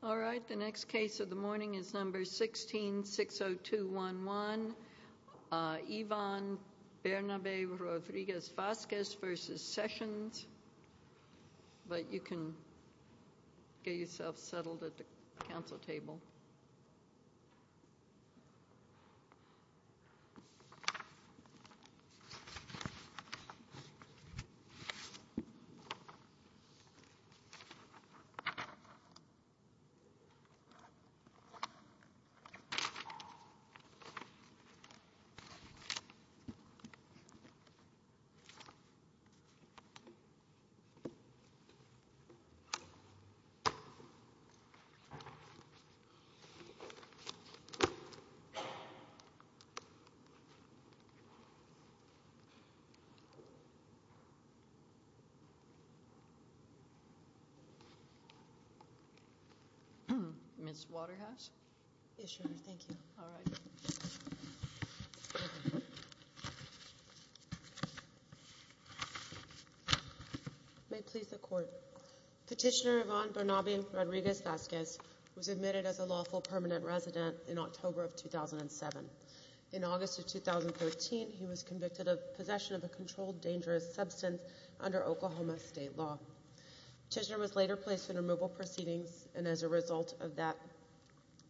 All right, the next case of the morning is number 16-60211, Yvonne Bernabe Rodriguez Vazquez Vazquez v. Sessions, but you can get yourself settled at the council table. Ms. Waterhouse? Yes, Your Honor. Thank you. All right. May it please the Court. Petitioner Yvonne Bernabe Rodriguez Vazquez was admitted as a lawful permanent resident in October of 2007. In August of 2013, he was convicted of possession of a controlled dangerous substance under Oklahoma state law. Petitioner was later placed in removal proceedings, and as a result of that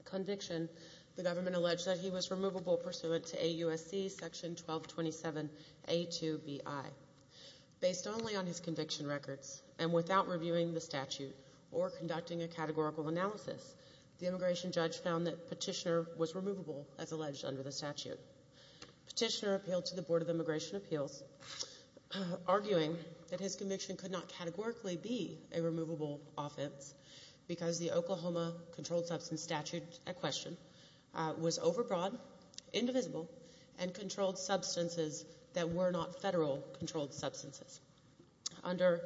conviction, the government alleged that he was removable pursuant to AUSC section 1227A2BI. Based only on his conviction records and without reviewing the statute or conducting a categorical analysis, the immigration judge found that Petitioner was removable as alleged under the statute. Petitioner appealed to the Board of Immigration Appeals, arguing that his conviction could not categorically be a removable offense because the Oklahoma controlled substance statute at question was overbroad, indivisible, and controlled substances that were not federal controlled substances. Under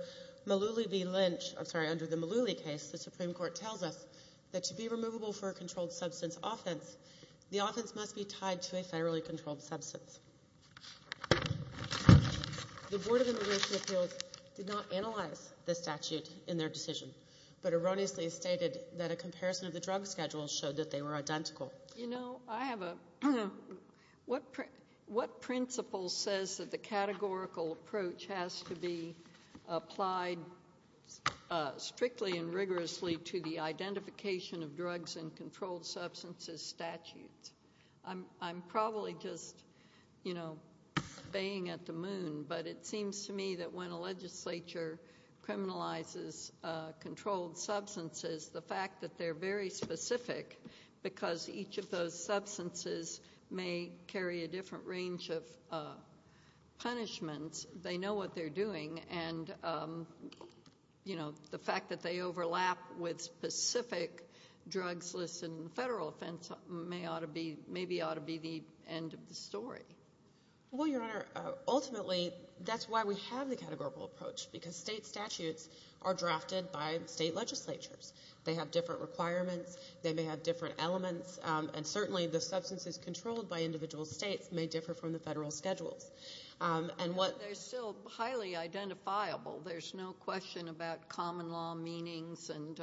the Malooly case, the Supreme Court tells us that to be removable for a controlled substance offense, the offense must be tied to a federally controlled substance. The Board of Immigration Appeals did not analyze the statute in their decision, but erroneously stated that a comparison of the drug schedules showed that they were identical. You know, I have a... What principle says that the categorical approach has to be applied strictly and rigorously to the identification of drugs in controlled substances statutes? I'm probably just, you know, baying at the moon, but it seems to me that when a legislature criminalizes controlled substances, the fact that they're very specific because each of those substances may carry a different range of punishments, they know what they're doing, and, you know, the fact that they overlap with specific drugs listed in the federal offense may ought to be, maybe ought to be the end of the story. Well, Your Honor, ultimately, that's why we have the categorical approach, because state statutes are drafted by state legislatures. They have different requirements. They may have different elements, and certainly the substances controlled by individual states may differ from the federal schedules. They're still highly identifiable. There's no question about common law meanings and,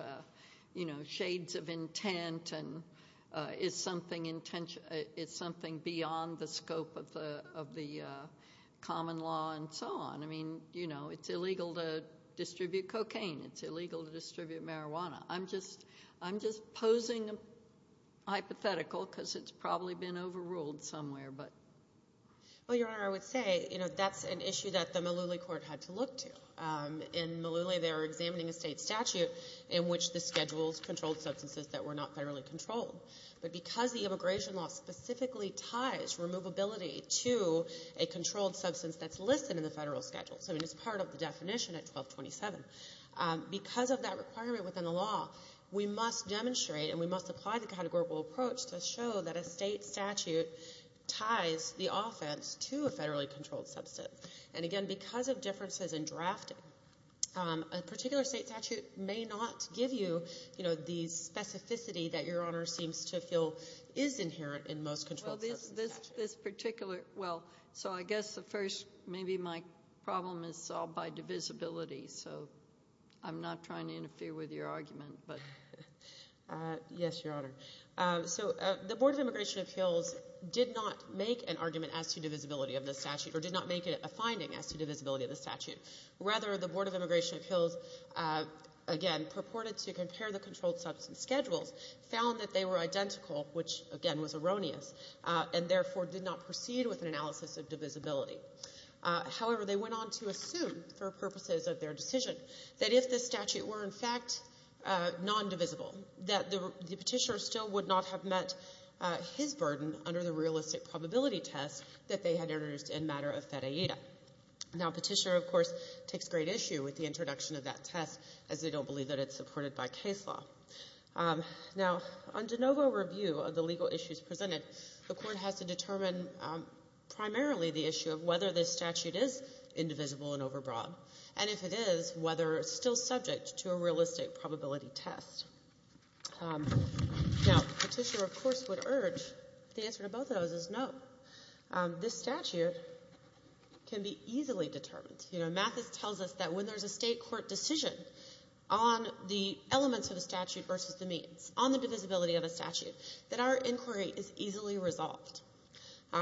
you know, shades of intent and is something beyond the scope of the common law and so on. I mean, you know, it's illegal to distribute cocaine. It's illegal to distribute marijuana. I'm just posing a hypothetical because it's probably been overruled somewhere, but... Well, Your Honor, I would say, you know, that's an issue that the Malooly Court had to look to. In Malooly, they were examining a state statute in which the schedules controlled substances that were not federally controlled. But because the immigration law specifically ties removability to a controlled substance that's listed in the federal schedule, so it's part of the definition at 1227, because of that requirement within the law, we must demonstrate and we must apply the categorical approach to show that a state statute ties the offense to a federally controlled substance. And, again, because of differences in drafting, a particular state statute may not give you, you know, the specificity that Your Honor seems to feel is inherent in most controlled substance statutes. Well, this particular – well, so I guess the first – maybe my problem is solved by divisibility, so I'm not trying to interfere with your argument, but... Yes, Your Honor. So the Board of Immigration Appeals did not make an argument as to divisibility of the statute or did not make it a finding as to divisibility of the statute. Rather, the Board of Immigration Appeals, again, purported to compare the controlled substance schedules, found that they were identical, which, again, was erroneous, and therefore did not proceed with an analysis of divisibility. However, they went on to assume, for purposes of their decision, that if the statute were, in fact, non-divisible, that the Petitioner still would not have met his burden under the realistic probability test that they had introduced in matter of fed AIDA. Now, Petitioner, of course, takes great issue with the introduction of that test as they don't believe that it's supported by case law. Now, on de novo review of the legal issues presented, the Court has to determine primarily the issue of whether this statute is indivisible and overbroad, and if it is, whether it's still subject to a realistic probability test. Now, Petitioner, of course, would urge the answer to both of those is no. This statute can be easily determined. You know, Mathis tells us that when there's a State court decision on the elements of a statute versus the means, on the divisibility of a statute, that our inquiry is easily resolved.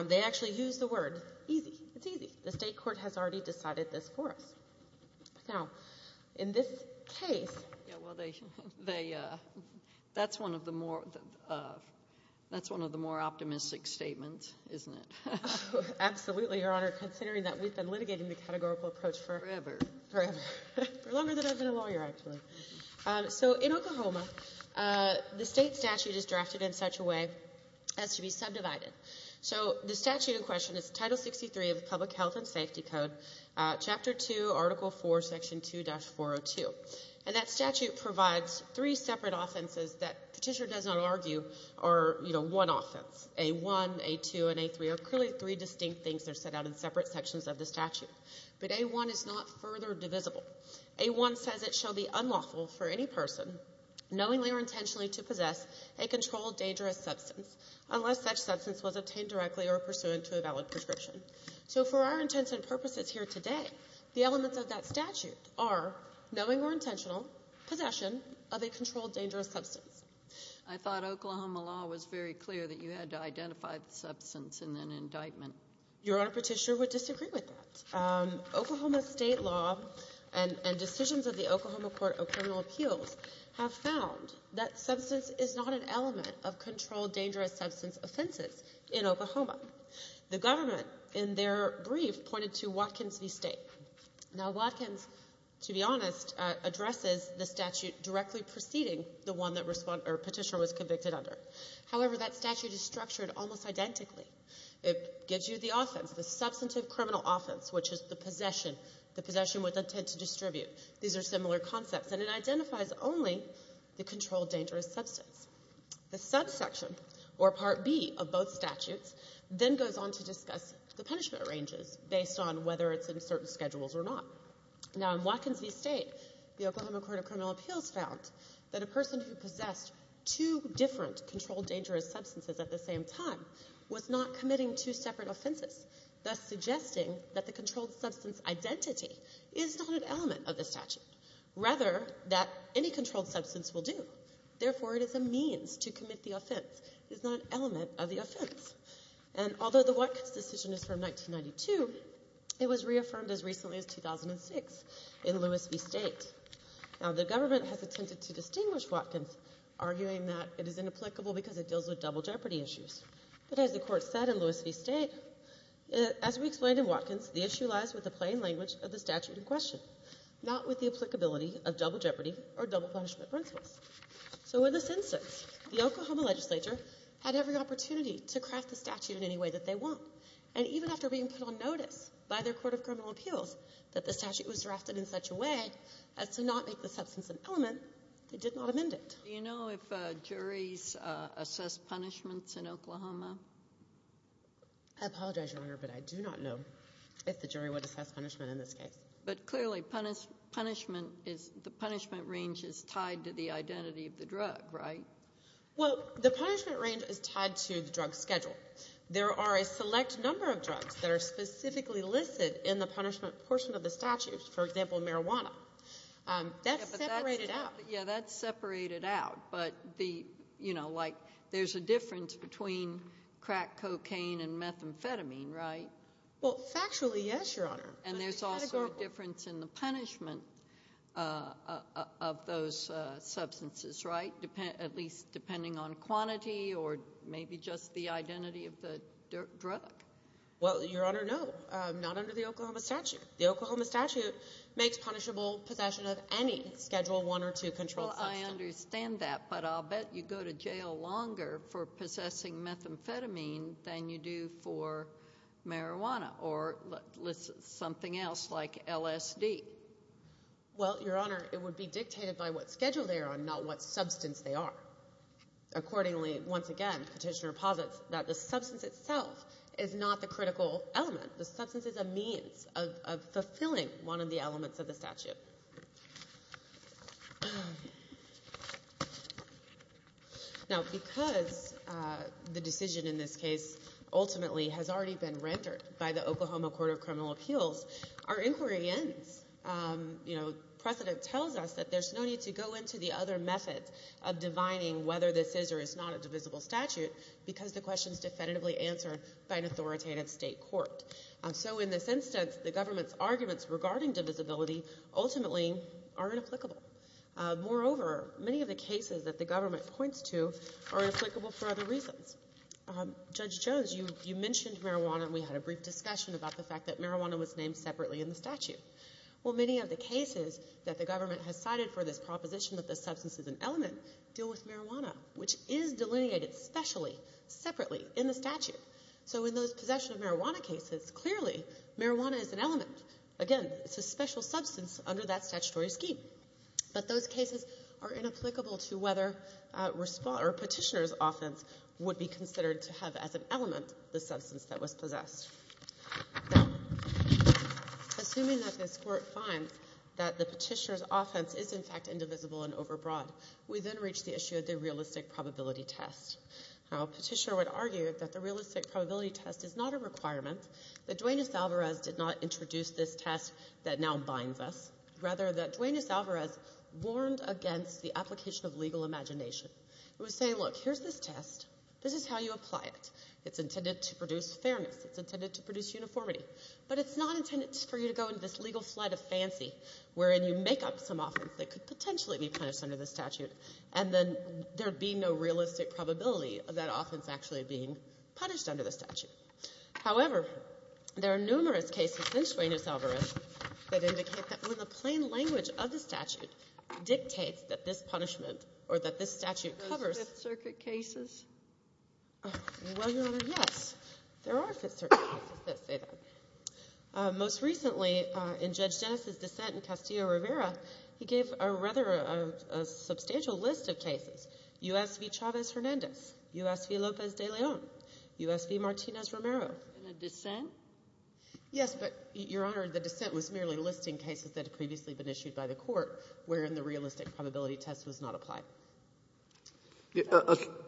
They actually use the word easy. It's easy. The State court has already decided this for us. Now, in this case they they that's one of the more that's one of the more optimistic statements, isn't it? Absolutely, Your Honor, considering that we've been litigating the categorical approach forever. Forever. For longer than I've been a lawyer, actually. So in Oklahoma, the State statute is drafted in such a way as to be subdivided. So the statute in question is Title 63 of the Public Health and Safety Code, Chapter 2, Article 4, Section 2-402. And that statute provides three separate offenses that Petitioner does not argue are, you know, one offense. A1, A2, and A3 are clearly three distinct things that are set out in separate sections of the statute. But A1 is not further divisible. A1 says it shall be unlawful for any person, knowingly or intentionally, to possess a controlled dangerous substance unless such substance was obtained directly or pursuant to a valid prescription. So for our intents and purposes here today, the elements of that statute are knowingly or intentionally possession of a controlled dangerous substance. I thought Oklahoma law was very clear that you had to identify the substance in an indictment. Your Honor, Petitioner would disagree with that. Oklahoma State law and decisions of the Oklahoma Court of Criminal Appeals have found that substance is not an element of controlled dangerous substance offenses in Oklahoma. The government, in their brief, pointed to Watkins v. State. Now, Watkins, to be honest, addresses the statute directly preceding the one that Petitioner was convicted under. However, that statute is structured almost identically. It gives you the offense, the substantive criminal offense, which is the possession, the possession with intent to distribute. These are similar concepts. And it identifies only the controlled dangerous substance. The subsection or Part B of both statutes then goes on to discuss the punishment ranges based on whether it's in certain schedules or not. Now, in Watkins v. State, the Oklahoma Court of Criminal Appeals found that a person who possessed two different controlled dangerous substances at the same time was not committing two separate offenses, thus suggesting that the controlled substance identity is not an element of the statute, rather that any controlled substance will do. Therefore, it is a means to commit the offense. It is not an element of the offense. And although the Watkins decision is from 1992, it was reaffirmed as recently as 2006 in Lewis v. State. Now, the government has attempted to distinguish Watkins, arguing that it is inapplicable because it deals with double jeopardy issues. But as the Court said in Lewis v. State, as we explained in Watkins, the issue lies with the plain language of the statute in question, not with the applicability of double jeopardy or double punishment principles. So in a sense, the Oklahoma legislature had every opportunity to craft the statute in any way that they want. And even after being put on notice by their Court of Criminal Appeals that the statute was drafted in such a way as to not make the substance an element, they did not amend it. Do you know if juries assess punishments in Oklahoma? I apologize, Your Honor, but I do not know if the jury would assess punishment in this case. But clearly, punishment is the punishment range is tied to the identity of the drug, right? Well, the punishment range is tied to the drug schedule. There are a select number of drugs that are specifically listed in the punishment portion of the statute, for example, marijuana. That's separated out. Yeah, that's separated out. But the, you know, like there's a difference between crack cocaine and methamphetamine, right? Well, factually, yes, Your Honor. And there's also a difference in the punishment of those substances, right, at least depending on quantity or maybe just the identity of the drug. Well, Your Honor, no, not under the Oklahoma statute. The Oklahoma statute makes punishable possession of any Schedule I or II controlled substance. Well, I understand that, but I'll bet you go to jail longer for possessing methamphetamine than you do for marijuana or something else like LSD. Well, Your Honor, it would be dictated by what schedule they are on, not what substance they are. Accordingly, once again, Petitioner posits that the substance itself is not the critical element. The substance is a means of fulfilling one of the elements of the statute. Now, because the decision in this case ultimately has already been rendered by the Oklahoma Court of Criminal Appeals, our inquiry ends. You know, precedent tells us that there's no need to go into the other methods of divining whether this is or is not a divisible statute because the question is definitively answered by an authoritative state court. So in this instance, the government's arguments regarding divisibility ultimately are inapplicable. Moreover, many of the cases that the government points to are inapplicable for other reasons. Judge Jones, you mentioned marijuana, and we had a brief discussion about the fact that marijuana was named separately in the statute. Well, many of the cases that the government has cited for this proposition that the substance is an element deal with marijuana, which is delineated specially, separately in the statute. So in those possession of marijuana cases, clearly marijuana is an element. Again, it's a special substance under that statutory scheme. But those cases are inapplicable to whether Petitioner's offense would be considered to have as an element the substance that was possessed. Assuming that this Court finds that the Petitioner's offense is, in fact, indivisible and overbroad, we then reach the issue of the realistic probability test. Now, Petitioner would argue that the realistic probability test is not a requirement, that Duane S. Alvarez did not introduce this test that now binds us, rather that Duane S. Alvarez warned against the application of legal imagination. It was saying, look, here's this test. This is how you apply it. It's intended to produce fairness. It's intended to produce uniformity. But it's not intended for you to go into this legal flight of fancy, wherein you make up some offense that could potentially be punished under the statute, and then there would be no realistic probability of that offense actually being punished under the statute. However, there are numerous cases in Duane S. Alvarez that indicate that when the statute covers... Those Fifth Circuit cases? Well, Your Honor, yes. There are Fifth Circuit cases that say that. Most recently, in Judge Dennis' dissent in Castillo-Rivera, he gave a rather substantial list of cases. U.S. v. Chavez-Hernandez, U.S. v. Lopez de Leon, U.S. v. Martinez-Romero. In a dissent? Yes, but, Your Honor, the dissent was merely listing cases that had previously been issued by the court, wherein the realistic probability test was not applied.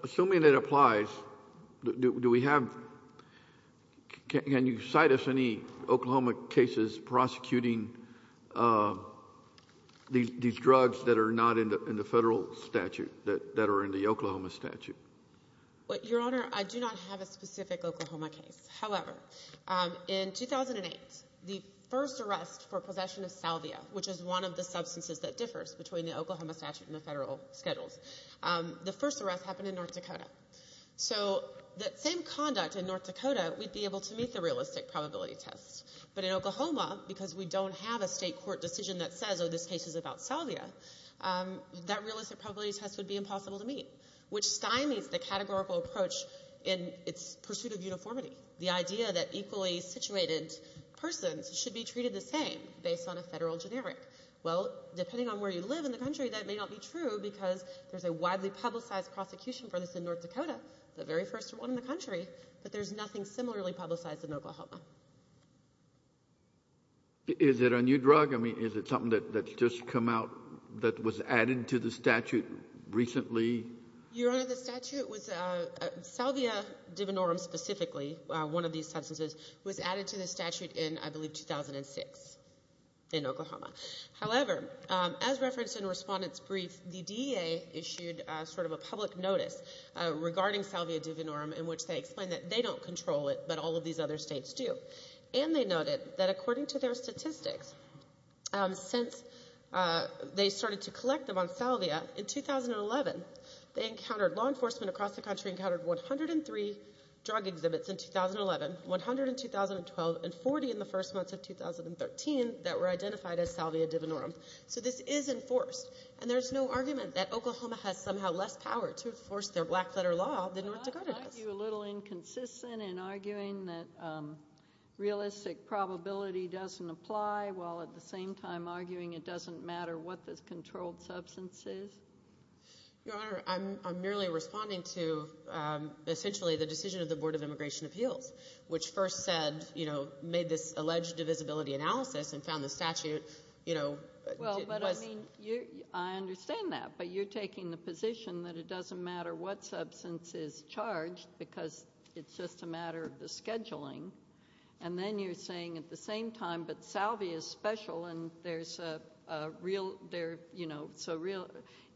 Assuming it applies, do we have — can you cite us any Oklahoma cases prosecuting these drugs that are not in the Federal statute, that are in the Oklahoma statute? Your Honor, I do not have a specific Oklahoma case. However, in 2008, the first arrest for possession of salvia, which is one of the substances that differs between the Oklahoma statute and the Federal schedules, the first arrest happened in North Dakota. So that same conduct in North Dakota, we'd be able to meet the realistic probability test. But in Oklahoma, because we don't have a State court decision that says, oh, this case is about salvia, that realistic probability test would be impossible to meet, which stymies the categorical approach in its pursuit of uniformity, the idea that equally situated persons should be treated the same based on a Federal generic. Well, depending on where you live in the country, that may not be true because there's a widely publicized prosecution for this in North Dakota, the very first one in the country, but there's nothing similarly publicized in Oklahoma. Is it a new drug? I mean, is it something that's just come out that was added to the statute recently? Your Honor, the statute was salvia divinorum specifically, one of these substances, was added to the statute in, I believe, 2006 in Oklahoma. However, as referenced in a respondent's brief, the DEA issued sort of a public notice regarding salvia divinorum in which they explained that they don't control it, but all of these other States do. And they noted that according to their statistics, since they started to collect them for salvia in 2011, they encountered law enforcement across the country, encountered 103 drug exhibits in 2011, 102 in 2012, and 40 in the first month of 2013 that were identified as salvia divinorum. So this is enforced. And there's no argument that Oklahoma has somehow less power to enforce their black-letter law than North Dakota does. Well, I find you a little inconsistent in arguing that realistic probability doesn't apply while at the same time arguing it doesn't matter what this substance is. Your Honor, I'm merely responding to essentially the decision of the Board of Immigration Appeals, which first said, you know, made this alleged divisibility analysis and found the statute, you know. Well, but I mean, I understand that. But you're taking the position that it doesn't matter what substance is charged because it's just a matter of the scheduling. And then you're saying at the same time that salvia is special and there's a real there, you know, so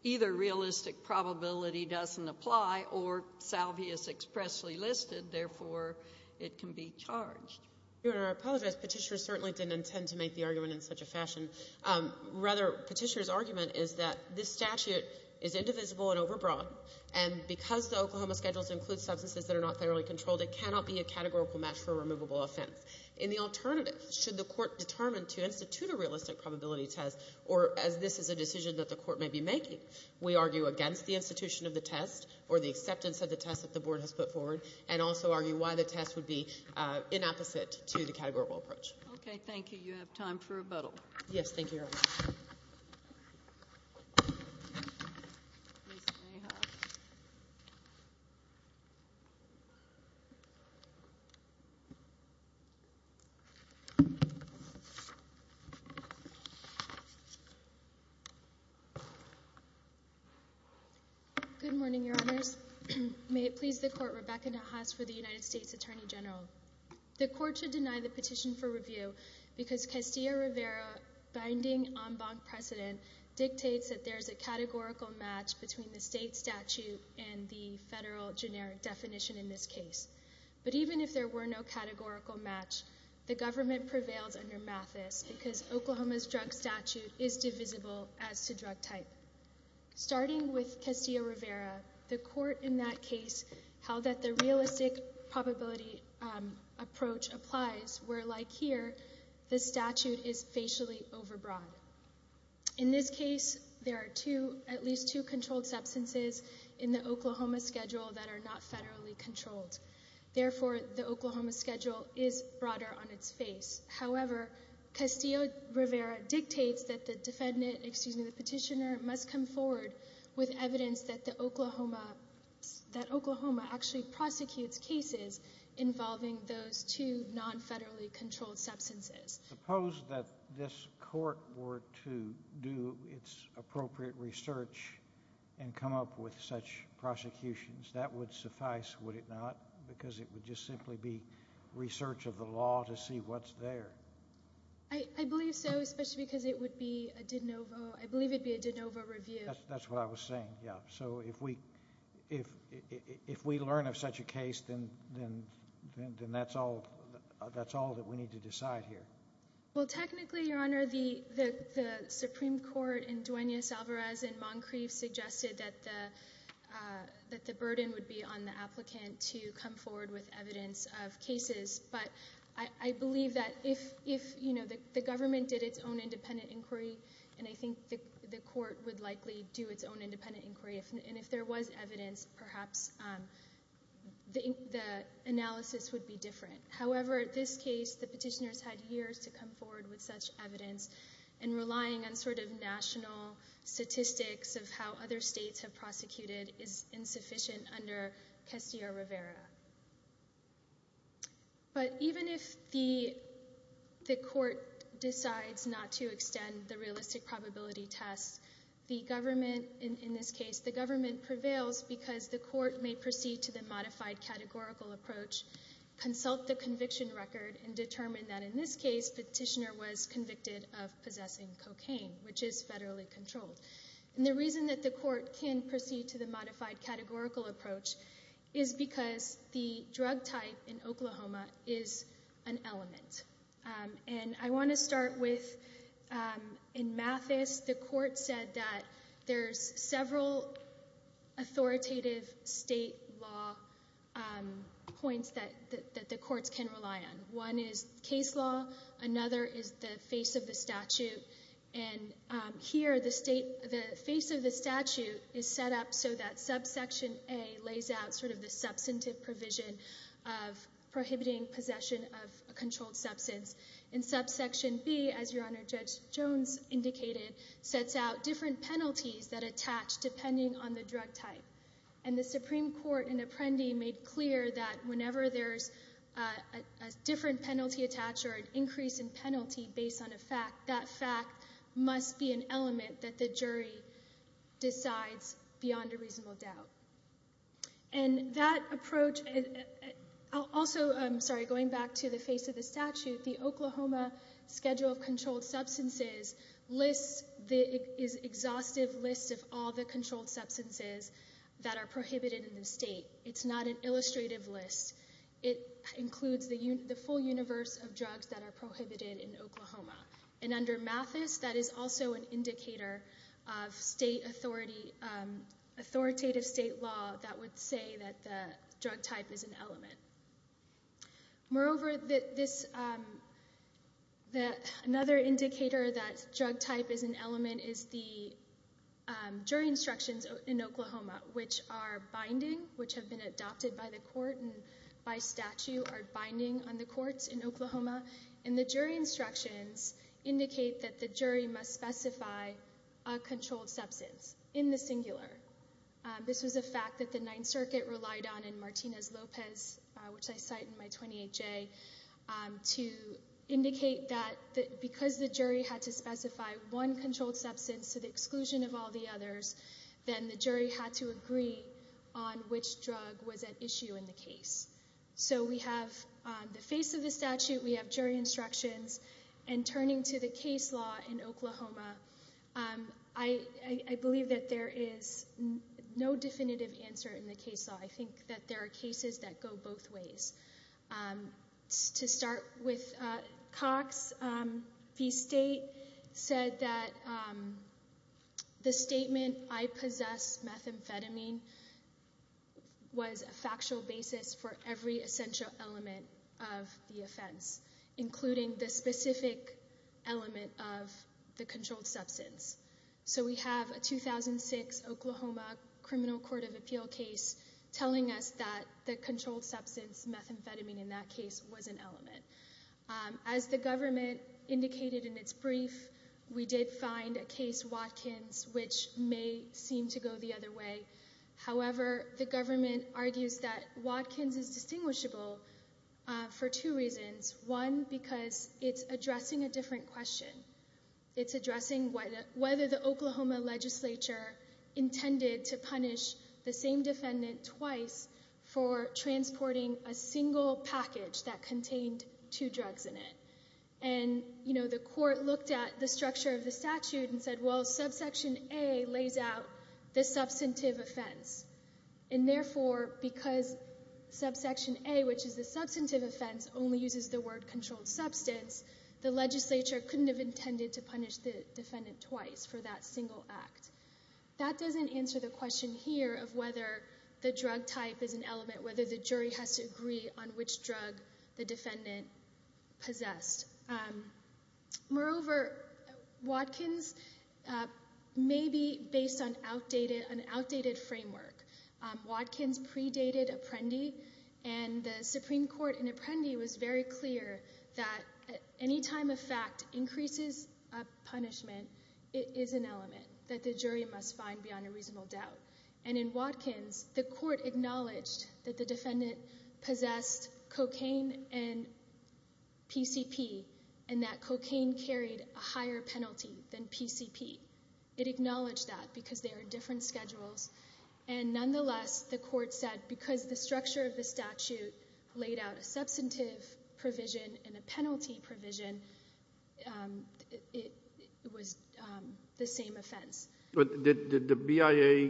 either realistic probability doesn't apply or salvia is expressly listed, therefore it can be charged. Your Honor, I apologize. Petitioner certainly didn't intend to make the argument in such a fashion. Rather, Petitioner's argument is that this statute is indivisible and overbroad. And because the Oklahoma schedules include substances that are not thoroughly controlled, it cannot be a categorical match for a removable offense. In the alternative, should the court determine to institute a realistic probability test, or as this is a decision that the court may be making, we argue against the institution of the test or the acceptance of the test that the Board has put forward, and also argue why the test would be inopposite to the categorical approach. Okay. Thank you. You have time for rebuttal. Thank you, Your Honor. Ms. Mayhoff. Good morning, Your Honors. May it please the Court, Rebecca Nahas for the United States Attorney General. The Court should deny the petition for review because Castillo-Rivera's binding en banc precedent dictates that there is a categorical match between the state statute and the federal generic definition in this case. But even if there were no categorical match, the government prevails under Mathis because Oklahoma's drug statute is divisible as to drug type. Starting with Castillo-Rivera, the Court in that case held that the realistic probability approach applies, where like here, the statute is facially overbroad. In this case, there are two, at least two controlled substances in the Oklahoma schedule that are not federally controlled. Therefore, the Oklahoma schedule is broader on its face. However, Castillo-Rivera dictates that the defendant, excuse me, the petitioner must come forward with evidence that the Oklahoma, that Oklahoma actually prosecutes cases involving those two non-federally controlled substances. Suppose that this court were to do its appropriate research and come up with such prosecutions. That would suffice, would it not? Because it would just simply be research of the law to see what's there. I believe so, especially because it would be a de novo. I believe it would be a de novo review. That's what I was saying, yeah. So if we learn of such a case, then that's all that we need to decide here. Well, technically, Your Honor, the Supreme Court in Duenas-Alvarez and Moncrief suggested that the burden would be on the applicant to come forward with evidence of cases. But I believe that if, you know, the government did its own independent inquiry, and I think the court would likely do its own independent inquiry, and if there was evidence, perhaps the analysis would be different. However, in this case, the petitioners had years to come forward with such evidence, and relying on sort of national statistics of how other states have prosecuted is insufficient under Castillo-Rivera. But even if the court decides not to extend the realistic probability test, the government, in this case, the government prevails because the court may proceed to the modified categorical approach, consult the conviction record, and determine that, in this case, petitioner was convicted of possessing cocaine, which is federally controlled. And the reason that the court can proceed to the modified categorical approach is because the drug type in Oklahoma is an element. And I want to start with, in Mathis, the court said that there's several authoritative state law points that the courts can rely on. One is case law. Another is the face of the statute. And here, the face of the statute is set up so that subsection A lays out sort of the substantive provision of prohibiting possession of a controlled substance. And subsection B, as Your Honor, Judge Jones indicated, sets out different penalties that attach depending on the drug type. And the Supreme Court in Apprendi made clear that whenever there's a different penalty attached or an increase in penalty based on a fact, that fact must be an element that the jury decides beyond a reasonable doubt. And that approach also, I'm sorry, going back to the face of the statute, the Oklahoma Schedule of Controlled Substances lists the exhaustive list of all the controlled substances that are prohibited in the state. It's not an illustrative list. It includes the full universe of drugs that are prohibited in Oklahoma. And under Mathis, that is also an indicator of state authority, authoritative state law that would say that the drug type is an element. Moreover, another indicator that drug type is an element is the jury instructions in Oklahoma, which are binding, which have been adopted by the court and by statute, are binding on the courts in Oklahoma. And the jury instructions indicate that the jury must specify a controlled substance in the singular. This was a fact that the Ninth Circuit relied on in Martinez-Lopez, which I cite in my 28-J, to indicate that because the jury had to specify one controlled substance to the exclusion of all the others, then the jury had to agree on which drug was at issue in the case. So we have the face of the statute. We have jury instructions. And turning to the case law in Oklahoma, I believe that there is no definitive answer in the case law. I think that there are cases that go both ways. To start with Cox, the state said that the statement, I possess methamphetamine, was a factual basis for every essential element of the offense, including the specific element of the controlled substance. So we have a 2006 Oklahoma criminal court of appeal case telling us that the controlled substance, methamphetamine in that case, was an element. As the government indicated in its brief, we did find a case, Watkins, which may seem to go the other way. However, the government argues that Watkins is distinguishable for two reasons. One, because it's addressing a different question. It's addressing whether the Oklahoma legislature intended to punish the same defendant twice for transporting a single package that contained two drugs in it. And, you know, the court looked at the structure of the statute and said, well, subsection A lays out the substantive offense. And, therefore, because subsection A, which is the substantive offense, only uses the word controlled substance, the legislature couldn't have intended to punish the defendant twice for that single act. That doesn't answer the question here of whether the drug type is an element, whether the jury has to agree on which drug the defendant possessed. Moreover, Watkins may be based on an outdated framework. Watkins predated Apprendi. And the Supreme Court in Apprendi was very clear that any time a fact increases a punishment, it is an element that the jury must find beyond a reasonable doubt. And in Watkins, the court acknowledged that the defendant possessed cocaine and PCP and that cocaine carried a higher penalty than PCP. It acknowledged that because they are different schedules. And, nonetheless, the court said because the structure of the statute laid out a substantive provision and a penalty provision, it was the same offense. But did the BIA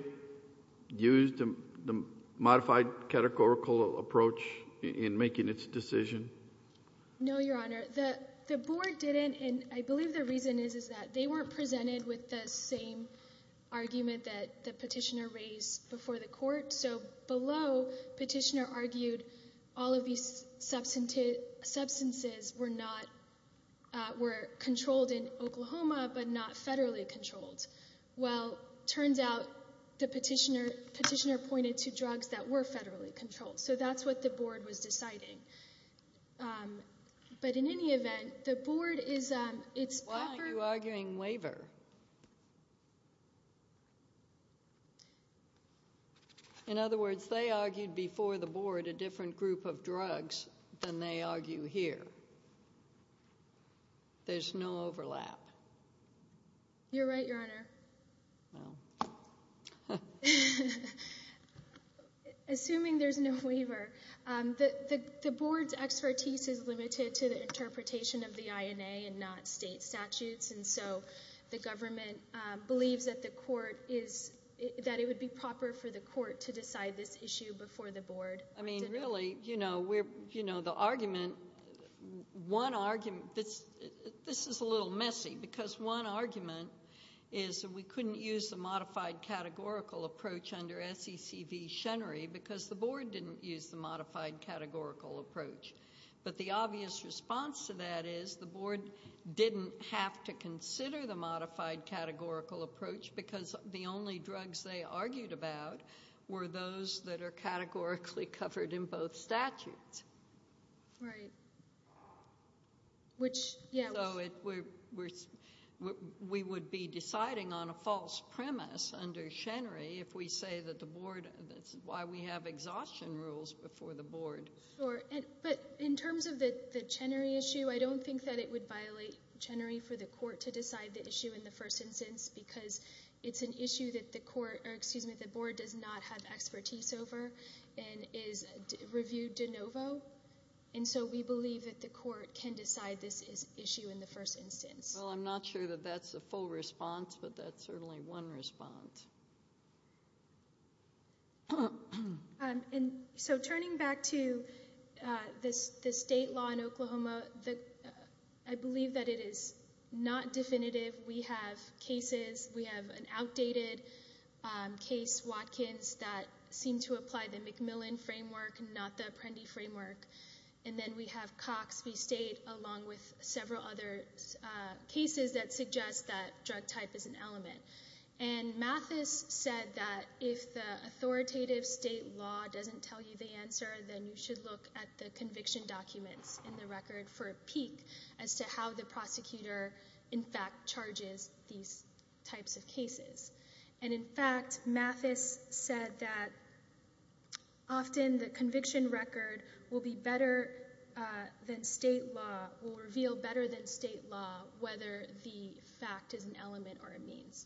use the modified categorical approach in making its decision? No, Your Honor. The board didn't, and I believe the reason is that they weren't presented with the same argument that the petitioner raised before the court. So below, the petitioner argued all of these substances were controlled in Oklahoma, but not federally controlled. Well, it turns out the petitioner pointed to drugs that were federally controlled. So that's what the board was deciding. But in any event, the board is— Why are you arguing waiver? In other words, they argued before the board a different group of drugs than they argue here. There's no overlap. You're right, Your Honor. Assuming there's no waiver. The board's expertise is limited to the interpretation of the INA and not state statutes, and so the government believes that it would be proper for the court to decide this issue before the board. I mean, really, you know, the argument—this is a little messy, because one argument is that we couldn't use the modified categorical approach under SEC v. Schenry because the board didn't use the modified categorical approach. But the obvious response to that is the board didn't have to consider the modified categorical approach because the only drugs they argued about were those that are categorically covered in both statutes. Right. So we would be deciding on a false premise under Schenry if we say that the board—that's why we have exhaustion rules before the board. But in terms of the Schenry issue, I don't think that it would violate Schenry for the court to decide the issue in the first instance because it's an issue that the board does not have expertise over and is reviewed de novo. And so we believe that the court can decide this issue in the first instance. Well, I'm not sure that that's a full response, but that's certainly one response. So turning back to the state law in Oklahoma, I believe that it is not definitive. We have cases. We have an outdated case, Watkins, that seemed to apply the McMillan framework and not the Apprendi framework. And then we have Cox v. State along with several other cases that suggest that drug type is an element. And Mathis said that if the authoritative state law doesn't tell you the answer, then you should look at the conviction documents in the record for a peak as to how the prosecutor in fact charges these types of cases. And, in fact, Mathis said that often the conviction record will be better than state law, will reveal better than state law whether the fact is an element or a means.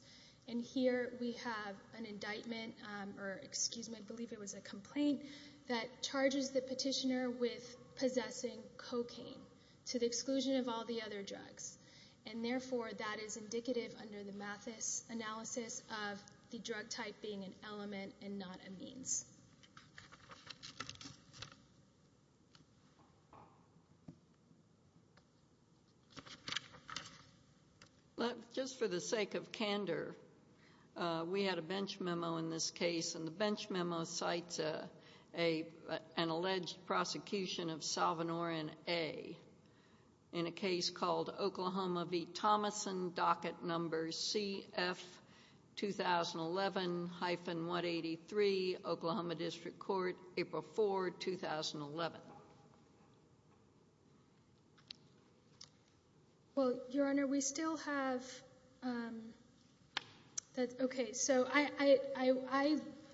And here we have an indictment, or excuse me, I believe it was a complaint, that charges the petitioner with possessing cocaine to the exclusion of all the other drugs. And, therefore, that is indicative under the Mathis analysis of the drug type being an element and not a means. Just for the sake of candor, we had a bench memo in this case, and the bench memo cites an alleged prosecution of Salvadoran A in a case called Oklahoma v. Thomason, docket number CF-2011-183, Oklahoma District Court, April 4, 2011. Well, Your Honor, we still have... Okay, so I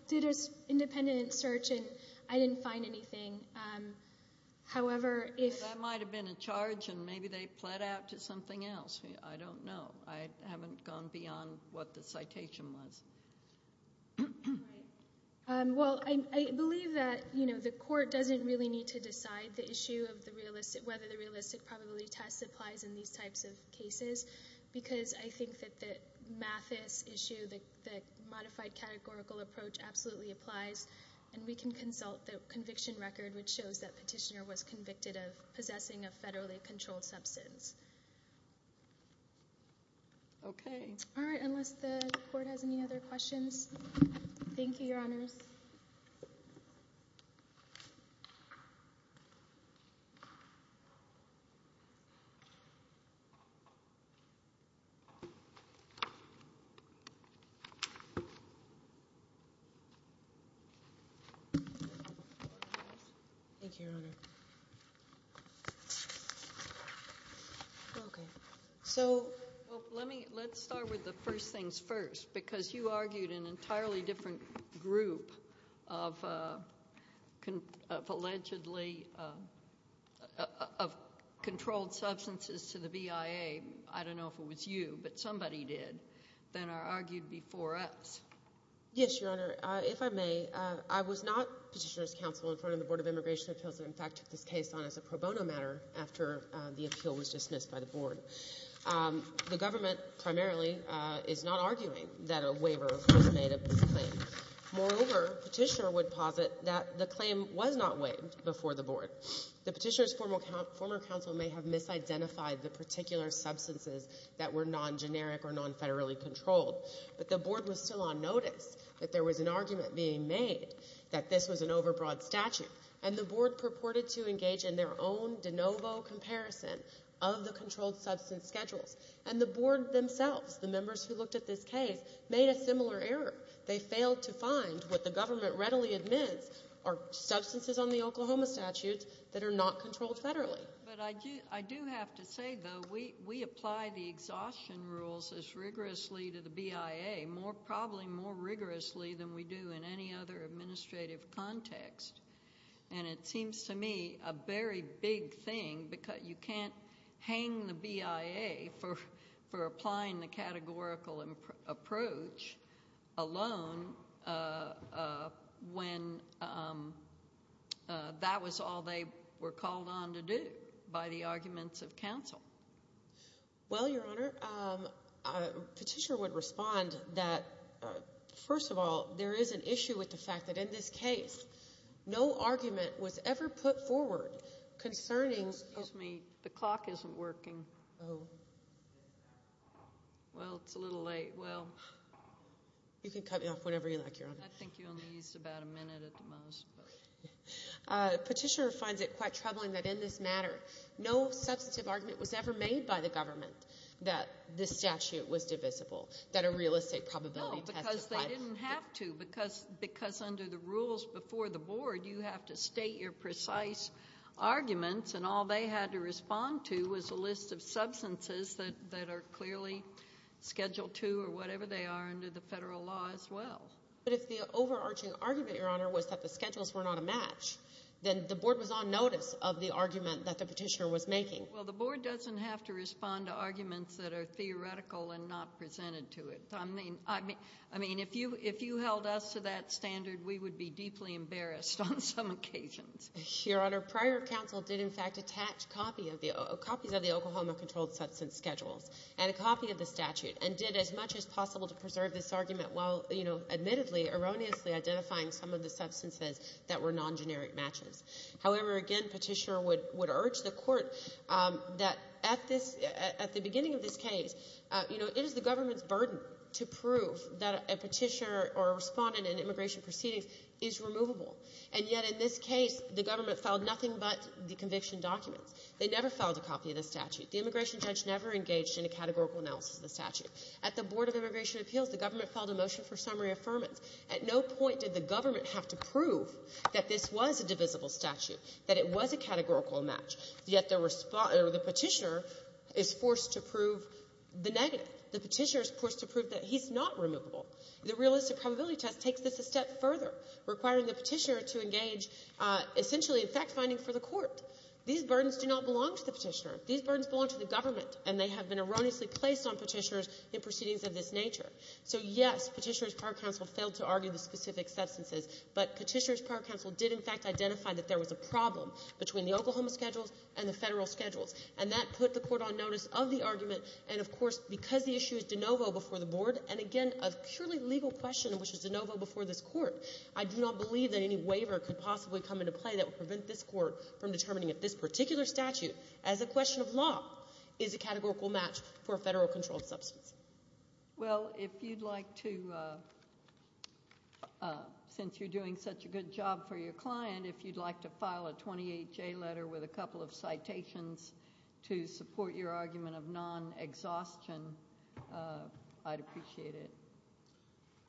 did an independent search, and I didn't find anything. However, if... That might have been a charge, and maybe they pled out to something else. I don't know. I haven't gone beyond what the citation was. All right. Well, I believe that the court doesn't really need to decide whether the realistic probability test applies in these types of cases because I think that the Mathis issue, the modified categorical approach, absolutely applies, and we can consult the conviction record, which shows that the petitioner was convicted of possessing a federally controlled substance. Okay. All right. Unless the court has any other questions. Thank you, Your Honors. Thank you, Your Honor. Okay. So... Well, let's start with the first things first because you argued an entirely different group of allegedly controlled substances to the BIA. I don't know if it was you, but somebody did, than are argued before us. Yes, Your Honor. If I may, I was not petitioner's counsel in front of the Board of Immigration Appeals and, in fact, took this case on as a pro bono matter after the appeal was dismissed by the Board. The government primarily is not arguing that a waiver was made of this claim. Moreover, petitioner would posit that the claim was not waived before the Board. The petitioner's former counsel may have misidentified the particular substances that were non-generic or non-federally controlled, but the Board was still on notice that there was an argument being made that this was an overbroad statute, and the Board purported to engage in their own de novo comparison of the controlled substance schedules. And the Board themselves, the members who looked at this case, made a similar error. They failed to find what the government readily admits are substances on the Oklahoma statutes that are not controlled federally. But I do have to say, though, we apply the exhaustion rules as rigorously to the BIA, probably more rigorously than we do in any other administrative context, and it seems to me a very big thing because you can't hang the BIA for applying the categorical approach alone when that was all they were called on to do by the arguments of counsel. Well, Your Honor, petitioner would respond that, first of all, there is an issue with the fact that in this case, no argument was ever put forward concerning... Excuse me. The clock isn't working. Oh. Well, it's a little late. Well... You can cut me off whenever you like, Your Honor. I think you only used about a minute at the most, but... Petitioner finds it quite troubling that in this matter, no substantive argument was ever made by the government that this statute was divisible, that a real estate probability test applied... No, because they didn't have to, because under the rules before the Board, you have to state your precise arguments, and all they had to respond to was a list of substances that are clearly Schedule II or whatever they are under the federal law as well. But if the overarching argument, Your Honor, was that the schedules were not a match, then the Board was on notice of the argument that the petitioner was making. Well, the Board doesn't have to respond to arguments that are theoretical and not presented to it. I mean, if you held us to that standard, we would be deeply embarrassed on some occasions. Your Honor, prior counsel did, in fact, attach copies of the Oklahoma controlled substance schedules and a copy of the statute and did as much as possible to preserve this argument while, you know, admittedly, erroneously identifying some of the substances that were non-generic matches. However, again, Petitioner would urge the Court that at the beginning of this case, you know, it is the government's burden to prove that a petitioner or a respondent in immigration proceedings is removable. And yet in this case, the government filed nothing but the conviction documents. They never filed a copy of the statute. At the Board of Immigration Appeals, the government filed a motion for summary affirmance. At no point did the government have to prove that this was a divisible statute, that it was a categorical match, yet the petitioner is forced to prove the negative. The petitioner is forced to prove that he's not removable. The realistic probability test takes this a step further, requiring the petitioner to engage essentially in fact-finding for the Court. These burdens do not belong to the petitioner. These burdens belong to the government, and they have been erroneously placed on petitioners in proceedings of this nature. So, yes, Petitioner's prior counsel failed to argue the specific substances, but Petitioner's prior counsel did in fact identify that there was a problem between the Oklahoma schedules and the Federal schedules, and that put the Court on notice of the argument. And, of course, because the issue is de novo before the Board, and, again, a purely legal question, which is de novo before this Court, I do not believe that any waiver could possibly come into play that would prevent this Court from determining if this particular statute, as a question of law, is a categorical match for a Federal-controlled substance. Well, if you'd like to, since you're doing such a good job for your client, if you'd like to file a 28-J letter with a couple of citations to support your argument of non-exhaustion, I'd appreciate it.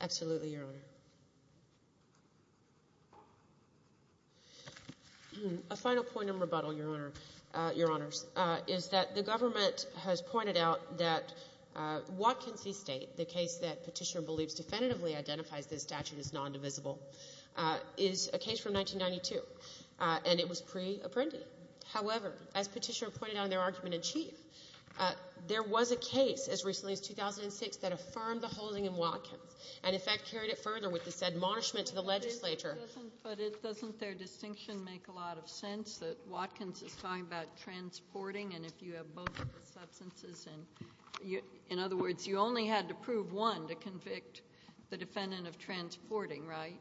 Absolutely, Your Honor. A final point of rebuttal, Your Honor, Your Honors, is that the government has pointed out that Watkins v. State, the case that Petitioner believes definitively identifies this statute as nondivisible, is a case from 1992, and it was pre-Apprendi. However, as Petitioner pointed out in their argument in chief, there was a case as Petitioner with this admonishment to the legislature. But doesn't their distinction make a lot of sense that Watkins is talking about transporting, and if you have both of the substances and you – in other words, you only had to prove one to convict the defendant of transporting, right?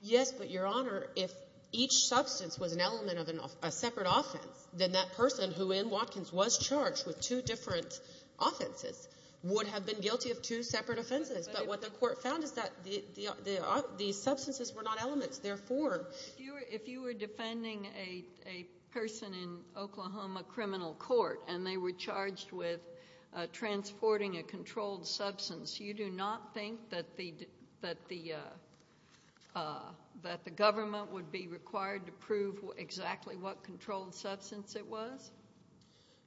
Yes, but, Your Honor, if each substance was an element of a separate offense, then that person who in Watkins was charged with two different offenses would have been guilty of two separate offenses. But what the court found is that the substances were not elements. Therefore, if you were defending a person in Oklahoma criminal court and they were charged with transporting a controlled substance, you do not think that the government would be required to prove exactly what controlled substance it was?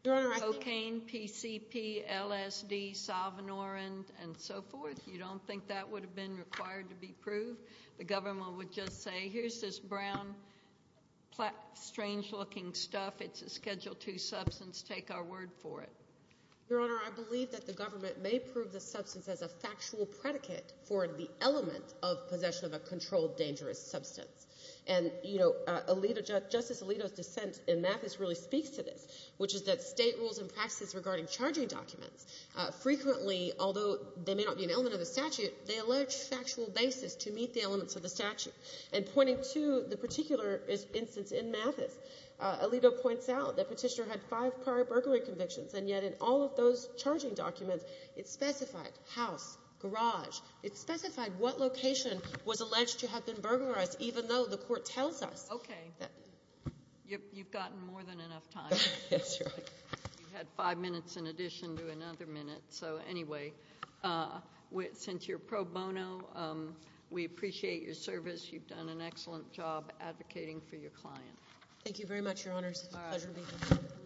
Your Honor, I think – Cocaine, PCP, LSD, Salvinorin, and so forth? You don't think that would have been required to be proved? The government would just say, here's this brown, strange-looking stuff. It's a Schedule II substance. Take our word for it. Your Honor, I believe that the government may prove the substance as a factual predicate for the element of possession of a controlled, dangerous substance. And, you know, Justice Alito's dissent in Mathis really speaks to this, which is that State rules and practices regarding charging documents frequently, although they may not be an element of the statute, they allege factual basis to meet the elements of the statute. And pointing to the particular instance in Mathis, Alito points out that Petitioner had five prior burglary convictions, and yet in all of those charging documents it specified house, garage. It specified what location was alleged to have been burglarized, even though the court tells us. Okay. You've gotten more than enough time. Yes, Your Honor. You've had five minutes in addition to another minute. So, anyway, since you're pro bono, we appreciate your service. You've done an excellent job advocating for your client. Thank you very much, Your Honors. Pleasure meeting you. All right.